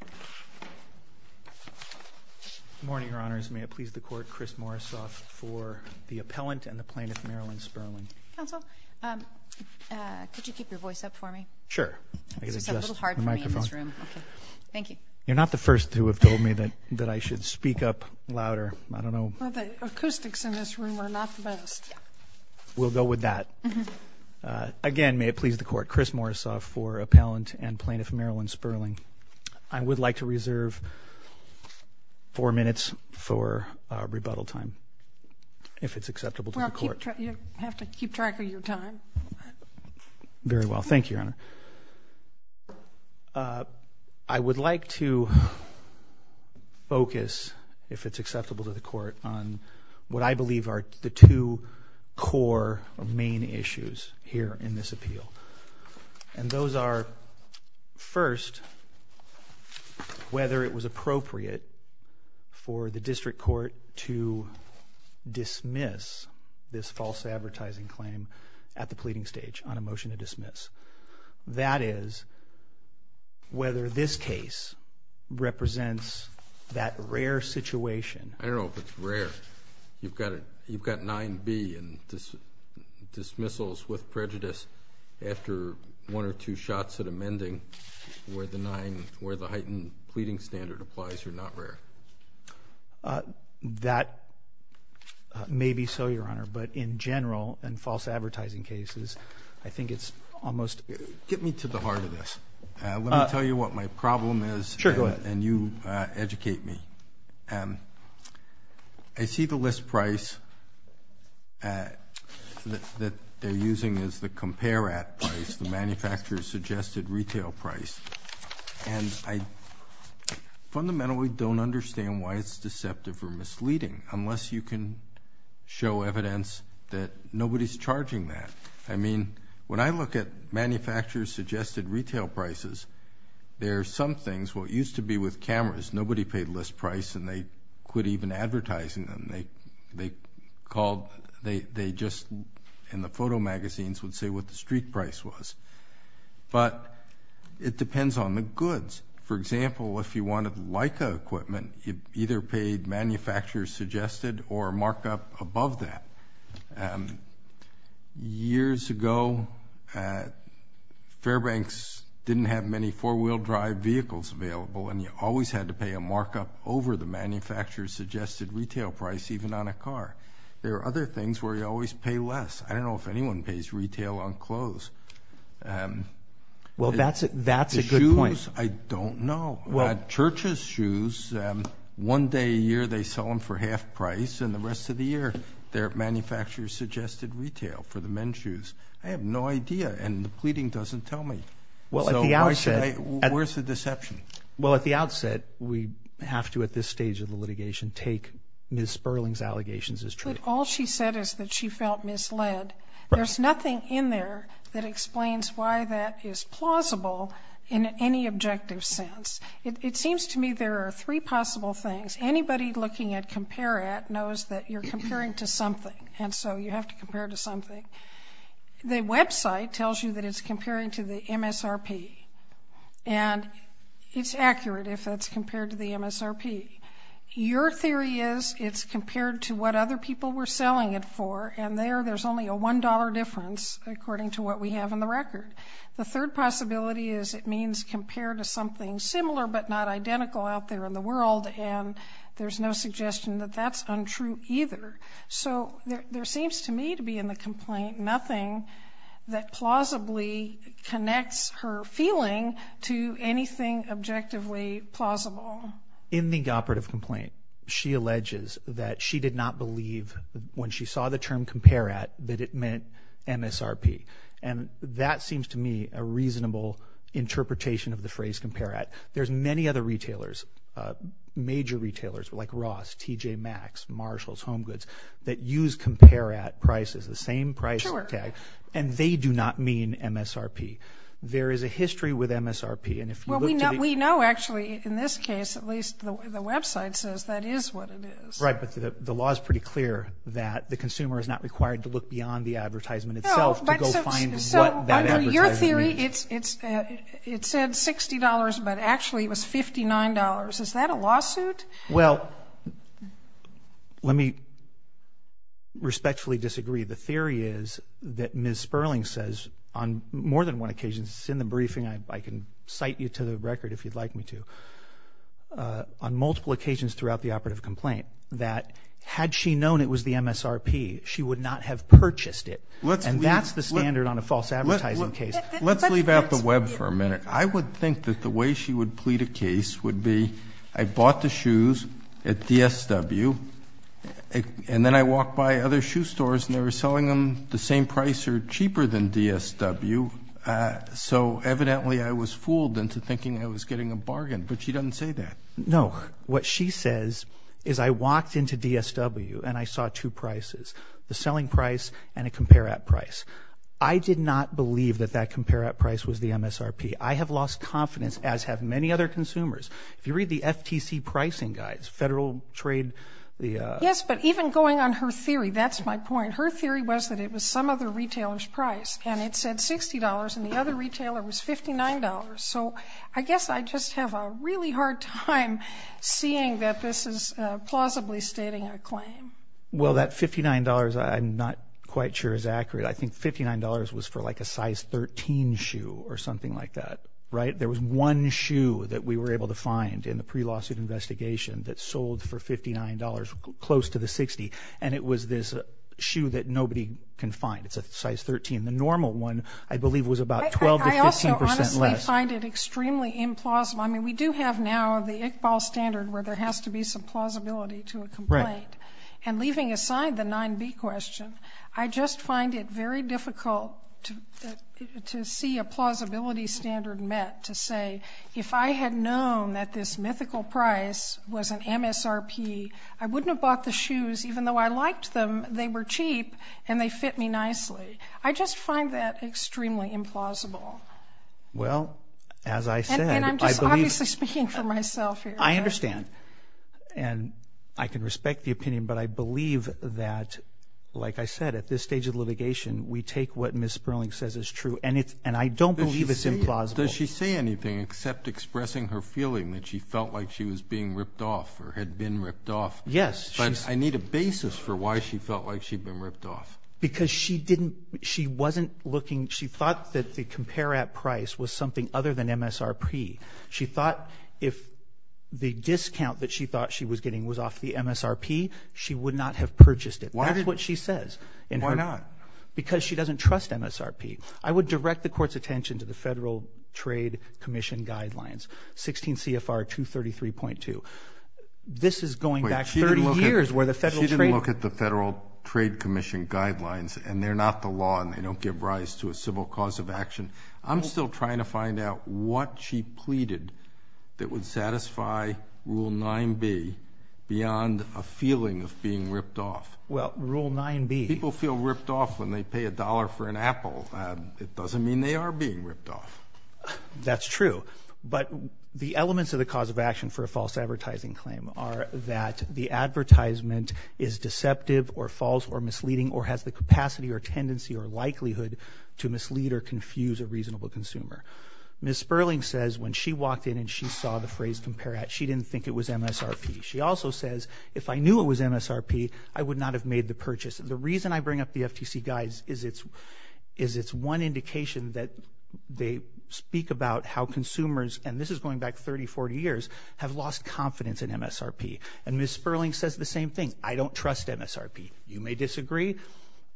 Good morning, Your Honors. May it please the Court, Chris Morrisoff for the Appellant and the Plaintiff, Marilyn Sperling. Counsel, could you keep your voice up for me? Sure. I guess it's a little hard for me in this room. Thank you. You're not the first to have told me that I should speak up louder. I don't know. The acoustics in this room are not the best. We'll go with that. Again, may it please the Court, Chris Morrisoff for Appellant and the Plaintiff. I would like to reserve four minutes for rebuttal time, if it's acceptable to the Court. Well, you have to keep track of your time. Very well. Thank you, Your Honor. I would like to focus, if it's acceptable to the Court, on what I believe are the two core or main issues here in this appeal. And those are, first, whether it was appropriate for the District Court to dismiss this false advertising claim at the pleading stage on a motion to dismiss. That is, whether this case represents that rare situation. I don't know if it's rare. You've got 9B and dismissals with prejudice after one or two shots at amending where the heightened pleading standard applies are not rare. That may be so, Your Honor. But in general, in false advertising cases, I think it's almost... Get me to the heart of this. Let me tell you what my problem is. Sure, go ahead. And you educate me. I see the list price that they're using as the compare-at price, the manufacturer's suggested retail price. And I fundamentally don't understand why it's deceptive or misleading, unless you can show evidence that nobody's charging that. I mean, when I look at manufacturer's suggested retail prices, there are some things... Well, it used to be with cameras. Nobody paid list price and they quit even advertising them. They just, in the photo magazines, would say what the street price was. But it depends on the goods. For example, if you wanted Leica equipment, you either paid manufacturer's suggested or markup above that. Years ago, Fairbanks didn't have many four-wheel drive vehicles available and you always had to pay a markup over the manufacturer's suggested retail price, even on a car. There are other things where you always pay less. I don't know if anyone pays retail on clothes. Well, that's a good point. The shoes, I don't know. Church's shoes, one day a year they sell them for half price and the rest of the year they're manufacturer's suggested retail for the men's shoes. I have no idea and the pleading doesn't tell me. Where's the deception? Well, at the outset, we have to, at this stage of the litigation, take Ms. Sperling's allegations as true. But all she said is that she felt misled. There's nothing in there that explains why that is plausible in any objective sense. It seems to me there are three possible things. Anybody looking at Compare-It knows that you're comparing to something and so you have to compare to something. The website tells you that it's comparing to the MSRP and it's accurate if that's compared to the MSRP. Your theory is it's compared to what other people were selling it for and there there's only a $1 difference according to what we have in the record. The third possibility is it means compare to something similar but not so there seems to me to be in the complaint nothing that plausibly connects her feeling to anything objectively plausible. In the operative complaint, she alleges that she did not believe when she saw the term Compare-It that it meant MSRP and that seems to me a reasonable interpretation of the phrase Compare-It. There's many other retailers, major retailers like Ross, TJ Maxx, Marshalls, Home Goods, that use Compare-It prices, the same price tag, and they do not mean MSRP. There is a history with MSRP and if you look at it... We know actually in this case at least the website says that is what it is. Right, but the law is pretty clear that the consumer is not required to look beyond the advertisement itself to go find what that advertiser means. So under your theory it said $60 but actually it was $59. Is that a lawsuit? Well, let me respectfully disagree. The theory is that Ms. Sperling says on more than one occasion, it's in the briefing, I can cite you to the record if you'd like me to, on multiple occasions throughout the operative complaint that had she known it was the MSRP she would not have purchased it and that's the standard on a false advertising case. Let's leave out the web for a minute. I would think that the way she would plead a case would be I bought the shoes at DSW and then I walked by other shoe stores and they were selling them the same price or cheaper than DSW, so evidently I was fooled into thinking I was getting a bargain, but she doesn't say that. No, what she says is I walked into DSW and I saw two prices, the selling price and a Compare-It price. I did not believe that that Compare-It price was the MSRP. I have lost confidence as have many other consumers. If you read the FTC pricing guides, Federal Trade... Yes, but even going on her theory, that's my point, her theory was that it was some other retailer's price and it said $60 and the other retailer was $59, so I guess I just have a really hard time seeing that this is plausibly stating a claim. Well, that $59, I'm not quite sure is accurate. I think $59 was for like a size 13 shoe or something like that, right? There was one shoe that we were able to find in the pre-lawsuit investigation that sold for $59 close to the $60 and it was this shoe that nobody can find. It's a size 13. The normal one, I believe, was about 12 to 15 percent less. I also honestly find it extremely implausible. I mean, we do have now the Iqbal standard where there has to be some plausibility to a complaint, and leaving aside the 9b question, I just find it very difficult to see a plausibility standard met to say, if I had known that this mythical price was an MSRP, I wouldn't have bought the shoes even though I liked them. They were cheap and they fit me nicely. I just find that extremely implausible. Well, as I said, I understand and I can respect the opinion, but I believe that, like I said, at this stage of litigation, we take what Ms. Sperling says is true and I don't believe it's implausible. Does she say anything except expressing her feeling that she felt like she was being ripped off or had been ripped off? Yes. But I need a basis for why she felt like she'd been ripped off. Because she wasn't looking, she thought that the compare-at price was something other than MSRP. She thought if the discount that she thought she was getting was off the MSRP, she would not have purchased it. Why? That's what she says. Why not? Because she doesn't trust MSRP. I would direct the court's attention to the Federal Trade Commission guidelines, 16 CFR 233.2. This is going back 30 years where the Federal Trade Commission... She didn't look at the Federal Trade Commission guidelines and they're not the law and they don't give rise to a civil cause of action. I'm still trying to find out what she pleaded that would satisfy Rule 9b beyond a feeling of being ripped off. Well, Rule 9b... People feel ripped off when they pay a dollar for an apple. It doesn't mean they are being ripped off. That's true. But the elements of the cause of action for a false advertisement is deceptive or false or misleading or has the capacity or tendency or likelihood to mislead or confuse a reasonable consumer. Ms. Sperling says when she walked in and she saw the phrase compare-at, she didn't think it was MSRP. She also says, if I knew it was MSRP, I would not have made the purchase. The reason I bring up the FTC guides is it's one indication that they speak about how consumers, and this is going back 30, 40 years, have lost confidence in the FTC. Ms. Sperling says the same thing. I don't trust MSRP. You may disagree.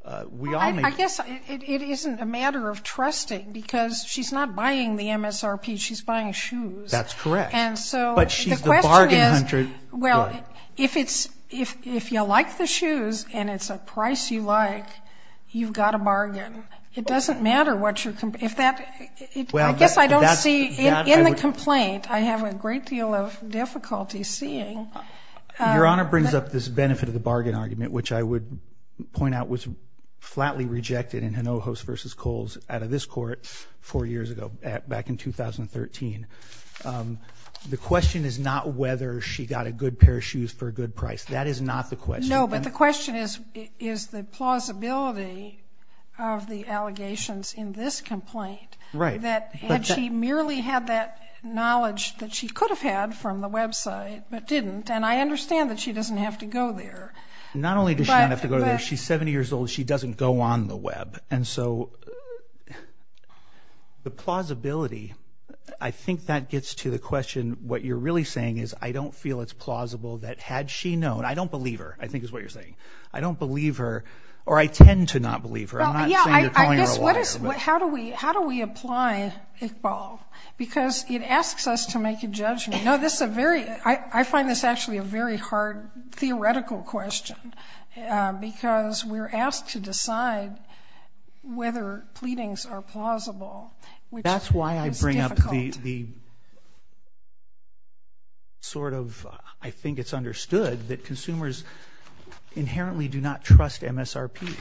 I guess it isn't a matter of trusting because she's not buying the MSRP, she's buying shoes. That's correct. But she's the bargain hunter. Well, if you like the shoes and it's a price you like, you've got a bargain. It doesn't matter what your... I guess I don't see... In the complaint, I have a great deal of difficulty seeing... Your Honor brings up this benefit of the bargain argument, which I would point out was flatly rejected in Hinojos v. Coles out of this court four years ago, back in 2013. The question is not whether she got a good pair of shoes for a good price. That is not the question. No, but the question is, is the plausibility of the allegations in this complaint that she merely had that knowledge that she could have had from the website but didn't, and I understand that she doesn't have to go there. Not only does she not have to go there, she's 70 years old, she doesn't go on the web. And so the plausibility, I think that gets to the question, what you're really saying is, I don't feel it's plausible that had she known... I don't believe her, I think is plausible. How do we apply Iqbal? Because it asks us to make a judgment. No, this is a very... I find this actually a very hard theoretical question, because we're asked to decide whether pleadings are plausible, which is difficult. That's why I bring up the sort of, I think it's understood that consumers inherently do not trust MSRP.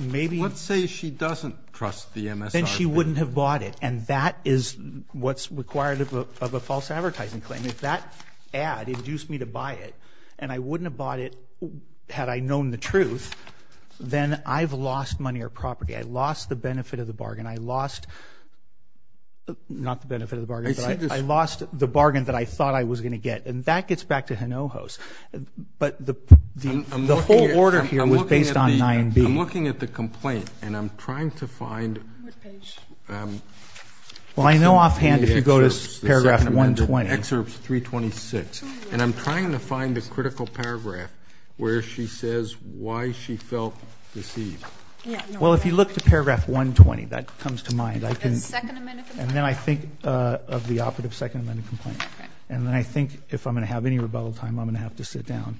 Maybe... Let's say she doesn't trust the MSRP. Then she wouldn't have bought it, and that is what's required of a false advertising claim. If that ad induced me to buy it, and I wouldn't have bought it had I known the truth, then I've lost money or property. I lost the benefit of the bargain. I lost, not the benefit of the bargain, but I lost the bargain that I thought I was going to get. And that gets back to Hinojos. But the whole order here was based on 9b. I'm looking at the complaint, and I'm trying to find... Well, I know offhand if you go to paragraph 120. Excerpts 326. And I'm trying to find the critical paragraph where she says why she felt deceived. Well, if you look to paragraph 120, that comes to mind. And then I think of the operative second amendment complaint. And then I think if I'm going to have any rebuttal time, I'm going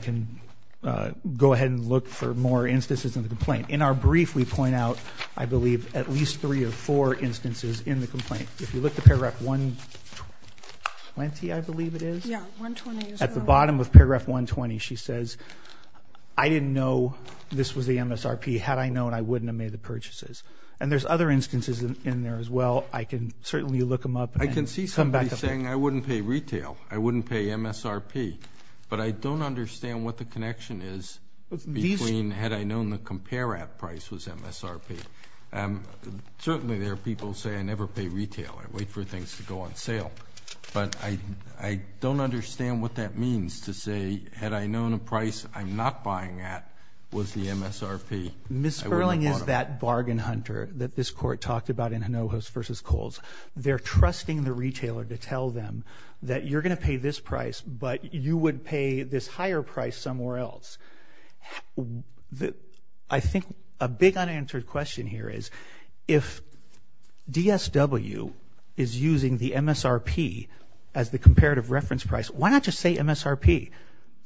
to go ahead and look for more instances in the complaint. In our brief, we point out, I believe, at least three or four instances in the complaint. If you look to paragraph 120, I believe it is, at the bottom of paragraph 120, she says, I didn't know this was the MSRP. Had I known, I wouldn't have made the purchases. And there's other instances in there as well. I can certainly look them up. I can see somebody saying, I wouldn't pay retail. I wouldn't pay MSRP. But I don't understand what the connection is between had I known the compare at price was MSRP. Certainly, there are people who say I never pay retail. I wait for things to go on sale. But I don't understand what that means to say, had I known a price I'm not buying at was the MSRP. Ms. Berling is that bargain hunter that this court the retailer to tell them that you're going to pay this price, but you would pay this higher price somewhere else. I think a big unanswered question here is, if DSW is using the MSRP as the comparative reference price, why not just say MSRP?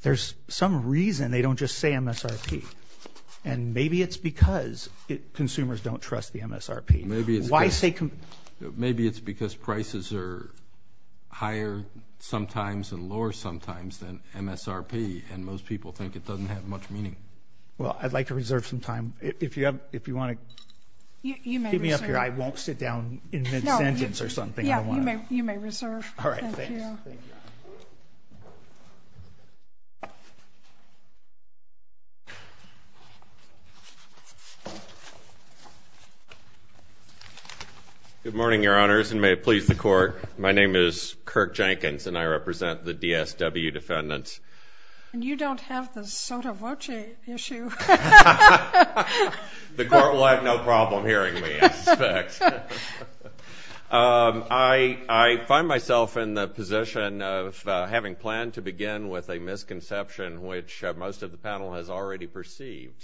There's some reason they don't just say MSRP. And maybe it's because consumers don't trust the MSRP. Maybe it's because prices are higher sometimes and lower sometimes than MSRP. And most people think it doesn't have much meaning. Well, I'd like to reserve some time. If you want to keep me up here, I won't sit down and invent a sentence or something. Yeah, you may reserve. All right. Thank you. Good morning, Your Honors, and may it please the court. My name is Kirk Jenkins, and I represent the DSW defendants. And you don't have the soda voce issue. The court will have no problem hearing me, I suspect. I find myself in the position of having planned to begin with a misconception, which most of the panel has already perceived.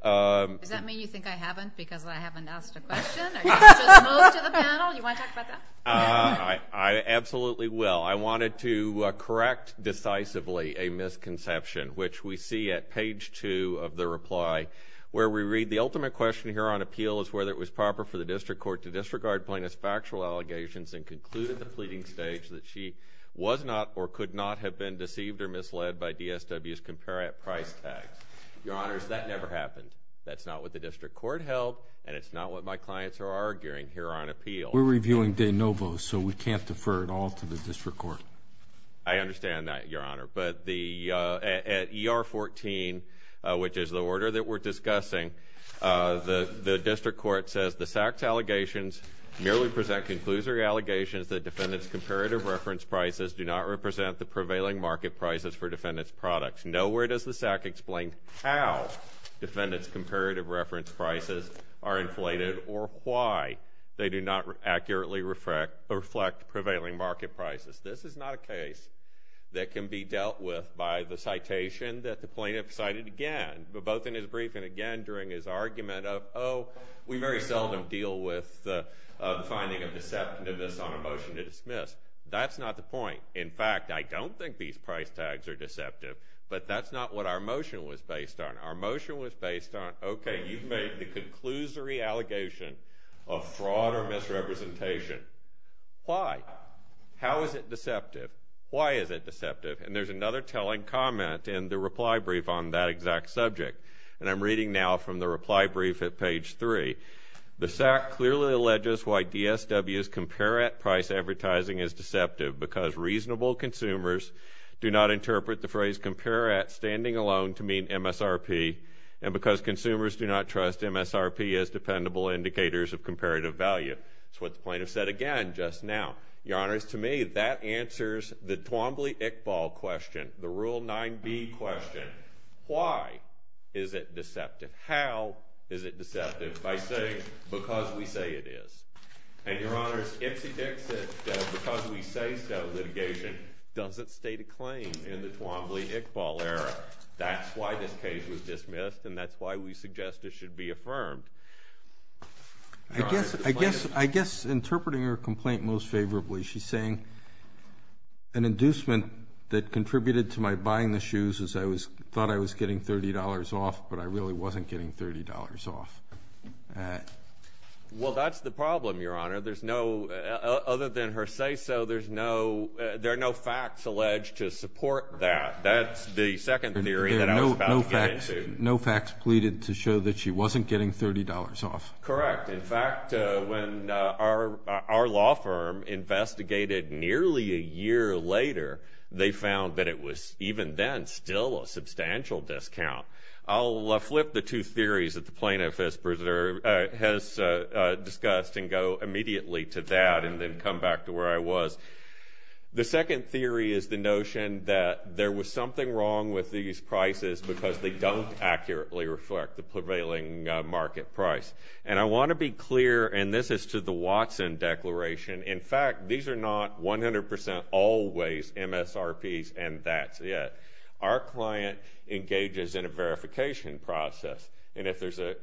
Does that mean you think I haven't, because I haven't asked a question? Are you just moved to the panel? Do you want to talk about that? I absolutely will. I wanted to correct decisively a misconception, which we see at page two of the reply, where we read, the ultimate question here on appeal is whether it was proper for the district court to disregard plaintiffs' factual allegations and conclude at the pleading stage that she was not or could not have been deceived or misled by DSW's compare-at-price tag. Your Honors, that never happened. That's not what the district court held, and it's not what my clients are arguing here on appeal. We're reviewing de novo, so we can't defer at all to the district court. I understand that, Your Honor, but at ER 14, which is the order that we're discussing, the district court says the SAC's allegations merely present conclusory allegations that defendants' comparative reference prices do not represent the prevailing market prices for defendants' products. Nowhere does the SAC explain how defendants' comparative reference prices are inflated or why they do not accurately reflect prevailing market prices. This is not a case that can be dealt with by the citation that the plaintiff cited again, both in his brief and again during his argument of, oh, we very seldom deal with the finding of deceptiveness on a motion to dismiss. That's not the point. In fact, I don't think these price tags are deceptive, but that's not what our motion was based on. Our motion was based on, okay, you've made the conclusory allegation of fraud or misrepresentation. Why? How is it deceptive? Why is it deceptive? And there's another telling comment in the reply brief on that exact subject, and I'm reading now from the reply brief at page 3. The SAC clearly alleges why DSW's compare-at price advertising is deceptive because reasonable consumers do not interpret the phrase compare-at standing alone to mean MSRP, and because consumers do not trust MSRP as dependable indicators of comparative value. That's what the plaintiff said again just now. Your Honors, to me, that answers the Twombly-Iqbal question, the Rule 9b question. Why is it deceptive? How is it deceptive? I say, because we say it is. And, Your Honors, it's the case that because we say so, litigation doesn't state a claim in the Twombly-Iqbal era. That's why this case was dismissed, and that's why we suggest it should be affirmed. I guess interpreting her complaint most favorably, she's saying an inducement that contributed to my buying the shoes is I thought I was getting $30 off, but I really wasn't getting $30 off. Well, that's the problem, Your Honor. Other than her say-so, there are no facts alleged to support that. That's the second theory that I was about to get into. No facts pleaded to show that she wasn't getting $30 off. Correct. In fact, when our law firm investigated nearly a year later, they found that it was, even then, still a substantial discount. I'll flip the two theories that the plaintiff has discussed and go immediately to that and then come back to where I was. The second theory is the notion that there was something wrong with these prices because they don't accurately reflect the prevailing market price. And I want to be clear, and this is to the Watson Declaration, in fact, these are not 100% always MSRPs and that's it. Our client engages in a verification process, and if there's an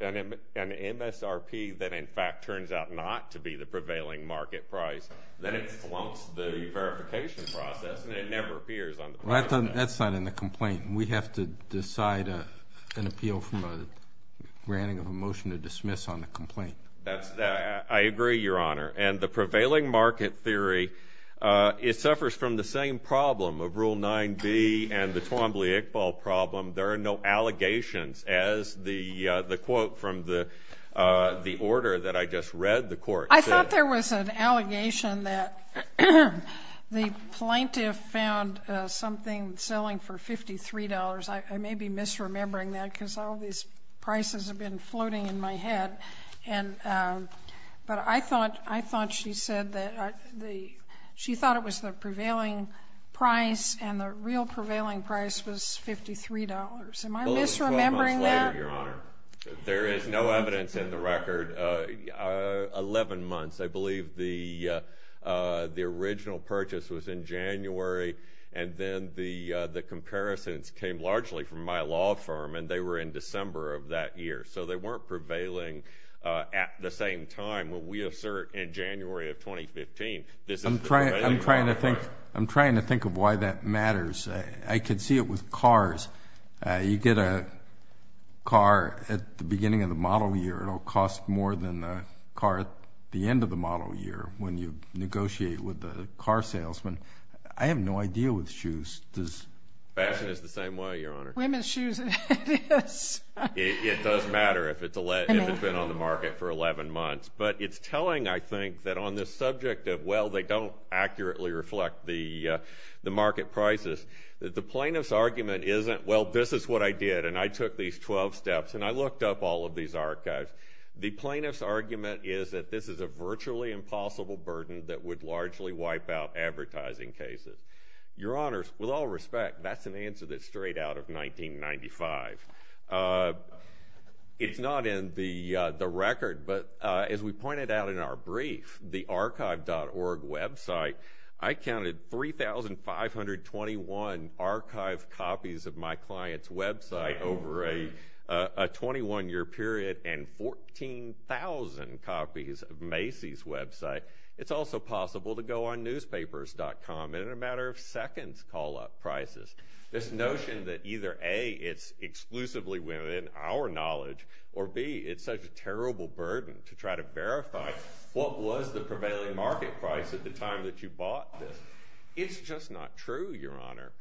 MSRP that in fact turns out not to be the prevailing market price, then it slumps the verification process and it never appears on the complaint. That's not in the complaint. We have to decide an appeal from a granting of a motion to dismiss on the complaint. I agree, Your Honor. And the prevailing market theory, it suffers from the same problem of Rule 9b and the Twombly-Iqbal problem. There are no allegations, as the quote from the order that I just read the court said. I thought there was an allegation that the plaintiff found something selling for $53. I may be misremembering that because all these prices have been floating in my head. But I thought she said that she thought it was the prevailing price and the real prevailing price was $53. Am I misremembering that? No, Your Honor. There is no evidence in the record. Eleven months, I believe the original purchase was in January, and then the comparisons came largely from my law firm, and they were in December of that year. So they weren't prevailing at the same time. When we assert in January of 2015, this is the prevailing market. I'm trying to think of why that matters. I could see it with cars. You get a car at the beginning of the model year. It'll cost more than a car at the end of the model year when you negotiate with the car salesman. I have no idea with shoes. Fashion is the same way, Your Honor. Women's shoes, it is. It does matter if it's been on the market for 11 months. But it's telling, I think, that on this subject of, well, they don't accurately reflect the market prices. The plaintiff's argument isn't, well, this is what I did, and I took these 12 steps, and I looked up all of these archives. The plaintiff's argument is that this is a virtually impossible burden that would largely wipe out advertising cases. Your Honors, with all respect, that's an answer that's straight out of 1995. It's not in the record, but as we pointed out in our brief, the archive.org website, I counted 3,521 archived copies of my client's website over a 21-year period and 14,000 copies of Macy's website. It's also possible to go on newspapers.com in a matter of seconds call up prices. This notion that either, A, it's exclusively women, our knowledge, or B, it's such a terrible burden to try to verify what was the prevailing market price at the time that you bought this. It's just not true, Your Honor.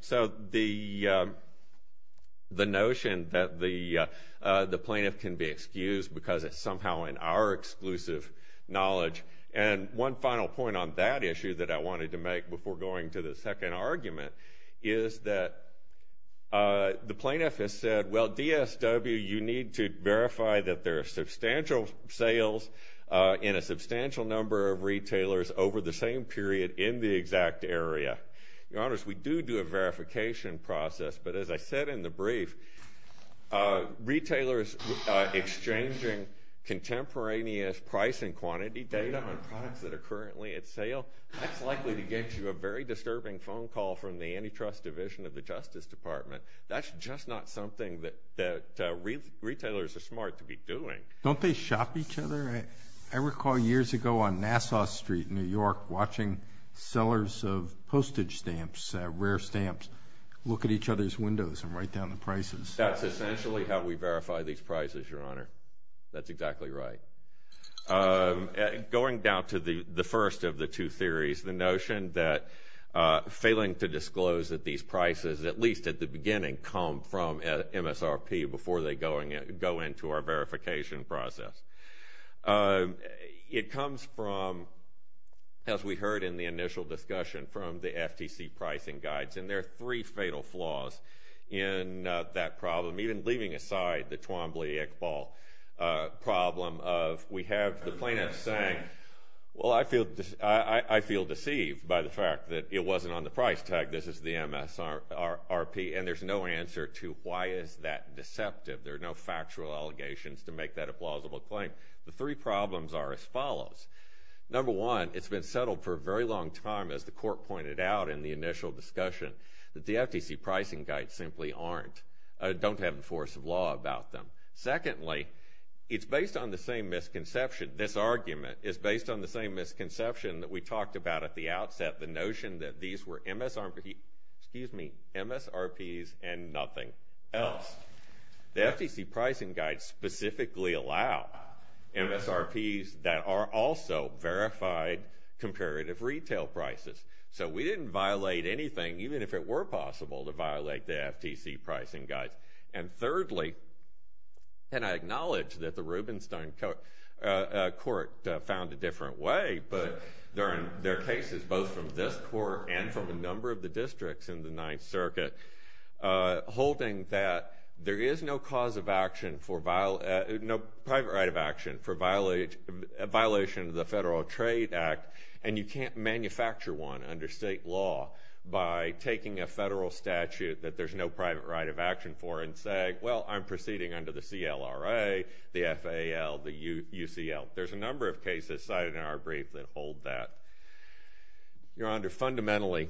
So the notion that the plaintiff can be excused because it's somehow in our exclusive knowledge. And one final point on that issue that I wanted to make before going to the second argument is that the plaintiff has said, well, DSW, you need to verify that there are substantial sales in a substantial number of retailers over the same period in the exact area. Your Honors, we do do a verification process, but as I said in the brief, retailers exchanging contemporaneous price and quantity data on products that are currently at sale, that's likely to get you a very disturbing phone call from the antitrust division of the Justice Department. That's just not something that retailers are smart to be doing. Don't they shop each other? I recall years ago on Nassau Street in New York watching sellers of postage stamps, rare stamps, look at each other's windows and write down the prices. That's essentially how we verify these prices, Your Honor. That's exactly right. I'm going down to the first of the two theories, the notion that failing to disclose that these prices, at least at the beginning, come from MSRP before they go into our verification process. It comes from, as we heard in the initial discussion, from the FTC pricing guides, and there are three fatal flaws in that problem, even leaving aside the Twombly-Iqbal problem of we have the plaintiff saying, well, I feel deceived by the fact that it wasn't on the price tag. This is the MSRP, and there's no answer to why is that deceptive? There are no factual allegations to make that a plausible claim. The three problems are as follows. Number one, it's been settled for a very long time, as the Court pointed out in the initial discussion, that the FTC pricing guides simply don't have the force of law about them. Secondly, it's based on the same misconception. This argument is based on the same misconception that we talked about at the outset, the notion that these were MSRPs and nothing else. The FTC pricing guides specifically allow MSRPs that are also verified comparative retail prices, so we didn't violate anything, even if it were possible to violate the FTC pricing guides. Thirdly, and I acknowledge that the Rubenstein Court found a different way, but there are cases both from this Court and from a number of the districts in the Ninth Circuit holding that there is no private right of action for violation of the Federal Trade Act, and you can't manufacture one under state law by taking a federal statute that there's no private right of action for and say, well, I'm proceeding under the CLRA, the FAL, the UCL. There's a number of cases cited in our brief that hold that. Your Honor, fundamentally,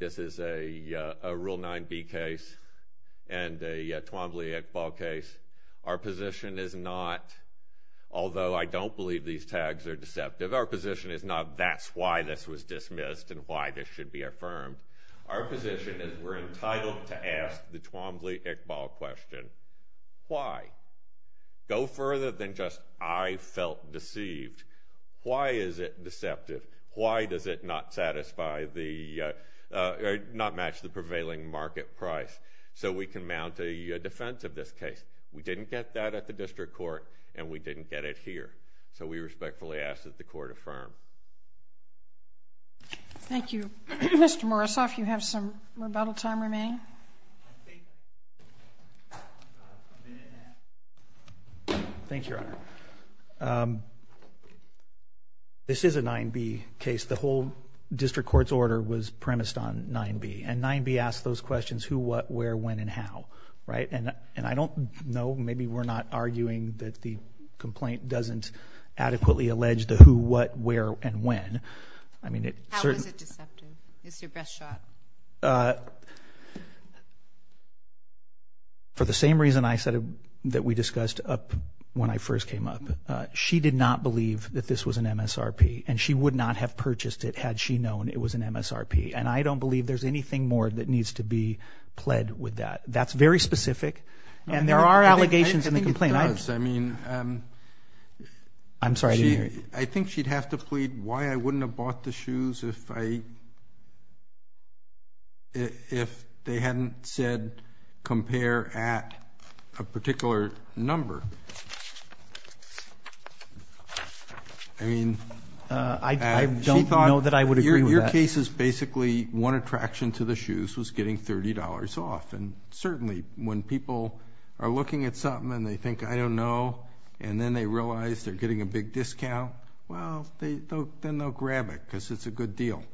this is a Rule 9b case and a Twombly-Iqbal case. Our position is not—although I don't believe these tags are deceptive—our position is not that's why this was dismissed and why this should be affirmed. Our position is we're entitled to ask the Twombly-Iqbal question, why? Go further than just I felt deceived. Why is it deceptive? Why does it not satisfy the—not match the prevailing market price so we can mount a defense of this case? We didn't get that at the District Court and we didn't get it here, so we respectfully ask that the Court affirm. Thank you. Mr. Morozov, you have some rebuttal time remaining? Thank you, Your Honor. This is a 9b case. The whole District Court's order was premised on 9b and 9b asks those questions, who, what, where, when, and how, right? And I don't know, maybe we're not arguing that the complaint doesn't adequately allege the who, what, where, and when. I mean it— How is it deceptive? It's your best shot. For the same reason I said that we discussed up when I first came up, she did not believe that this was an MSRP and she would not have purchased it had she known it was an MSRP. And I don't believe there's anything more that needs to be pled with that. That's very specific and there are allegations in the complaint. I think it does. I mean— I think she'd have to plead why I wouldn't have bought the shoes if they hadn't said compare at a particular number. I mean— I don't know that I would agree with that. Your case is basically one attraction to the shoes was getting $30 off. And certainly when people are looking at something and they think, I don't know, and then they realize they're getting a big discount, well, then they'll grab it because it's a good deal.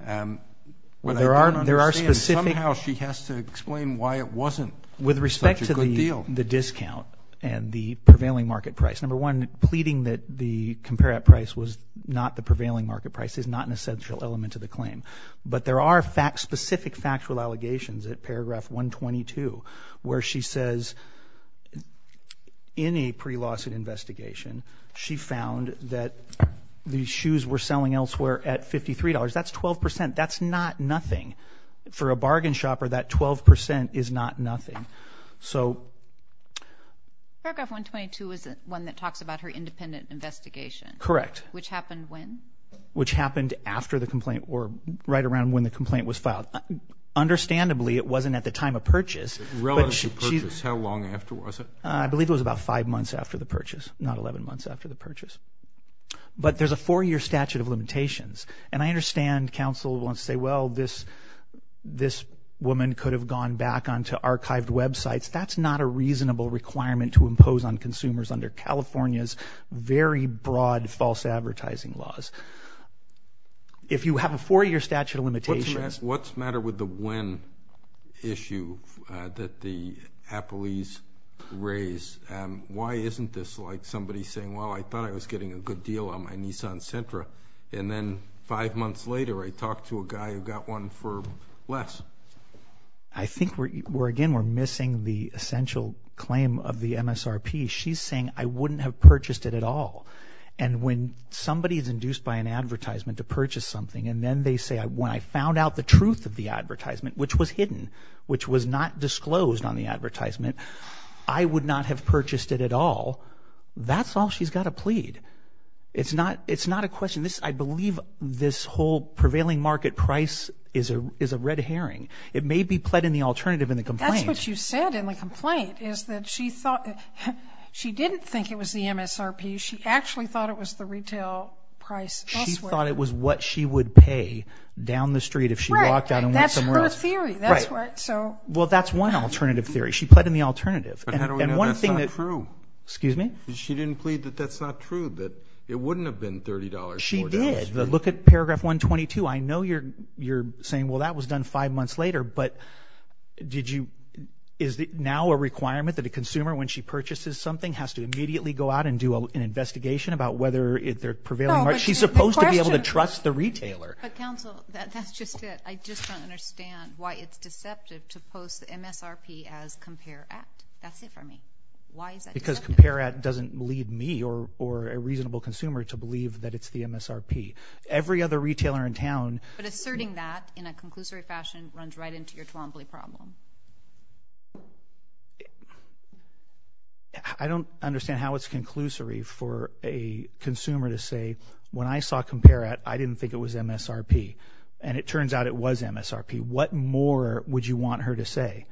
Well, there are specific— Somehow she has to explain why it wasn't such a good deal. With respect to the discount and the prevailing market price. Number one, pleading that the compare at price was not the prevailing market price is not an essential element of the claim. But there are specific factual allegations at paragraph 122 where she says, in a pre-lawsuit investigation, she found that the shoes were selling elsewhere at $53. That's 12%. That's not nothing. For a bargain shopper, that 12% is not nothing. So— Paragraph 122 is one that talks about her independent investigation. Correct. Which happened when? Which happened after the complaint or right around when the complaint was filed. Understandably, it wasn't at the time of purchase. Relative to purchase, how long after was it? I believe it was about five months after the purchase, not 11 months after the purchase. But there's a four-year statute of limitations. And I understand counsel wants to say, well, this woman could have gone back onto archived websites. That's not a reasonable requirement to impose on consumers under California's very broad false advertising laws. If you have a four-year statute of limitations— What's the matter with the when issue that the appellees raised? Why isn't this like somebody saying, well, I thought I was getting a good deal on my Nissan Sentra, and then five months later, I talked to a guy who got one for less? I think, again, we're missing the essential claim of the MSRP. She's saying, I wouldn't have purchased it at all. And when somebody is induced by an advertisement to purchase something, and then they say, when I found out the truth of the advertisement, which was hidden, which was not disclosed on the advertisement, I would not have purchased it at all. That's all she's got to plead. It's not a question. I believe this whole prevailing market price is a red herring. It may be pled in the alternative in the complaint. That's what you said in the complaint, is that she thought—she didn't think it was the MSRP. She actually thought it was the retail price elsewhere. It was what she would pay down the street if she walked out and went somewhere else. Well, that's one alternative theory. She pled in the alternative. But how do we know that's not true? Excuse me? She didn't plead that that's not true, that it wouldn't have been $30 more down the street. She did. Look at paragraph 122. I know you're saying, well, that was done five months later. But is it now a requirement that a consumer, when she purchases something, has to immediately go out and do an investigation about whether they're prevailing? She's supposed to be able to trust the retailer. But, counsel, that's just it. I just don't understand why it's deceptive to post the MSRP as Compare At. That's it for me. Why is that deceptive? Because Compare At doesn't lead me or a reasonable consumer to believe that it's the MSRP. Every other retailer in town— But asserting that in a conclusory fashion runs right into your Twombly problem. I don't understand how it's conclusory for a consumer to say, when I saw Compare At, I didn't think it was MSRP. And it turns out it was MSRP. What more would you want her to say?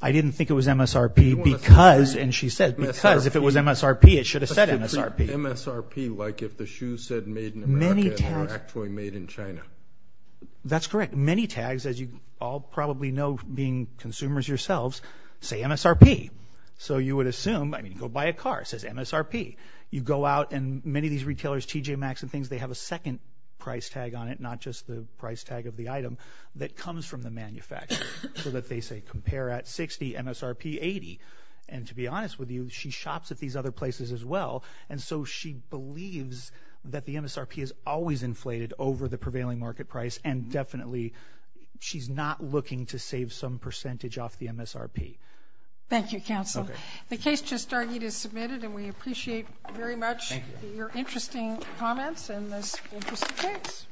I didn't think it was MSRP because— And she said, because if it was MSRP, it should have said MSRP. MSRP, like if the shoes said made in America and they were actually made in China. That's correct. Many tags, as you all probably know, being consumers yourselves, say MSRP. So you would assume— I mean, go buy a car. It says MSRP. You go out and many of these retailers, TJ Maxx and things, they have a second price tag on it, not just the price tag of the item, that comes from the manufacturer. So that they say Compare At 60, MSRP 80. And to be honest with you, she shops at these other places as well. And so she believes that the MSRP is always inflated over the prevailing market price and definitely she's not looking to save some percentage off the MSRP. Thank you, counsel. The case just argued is submitted and we appreciate very much your interesting comments and this interesting case.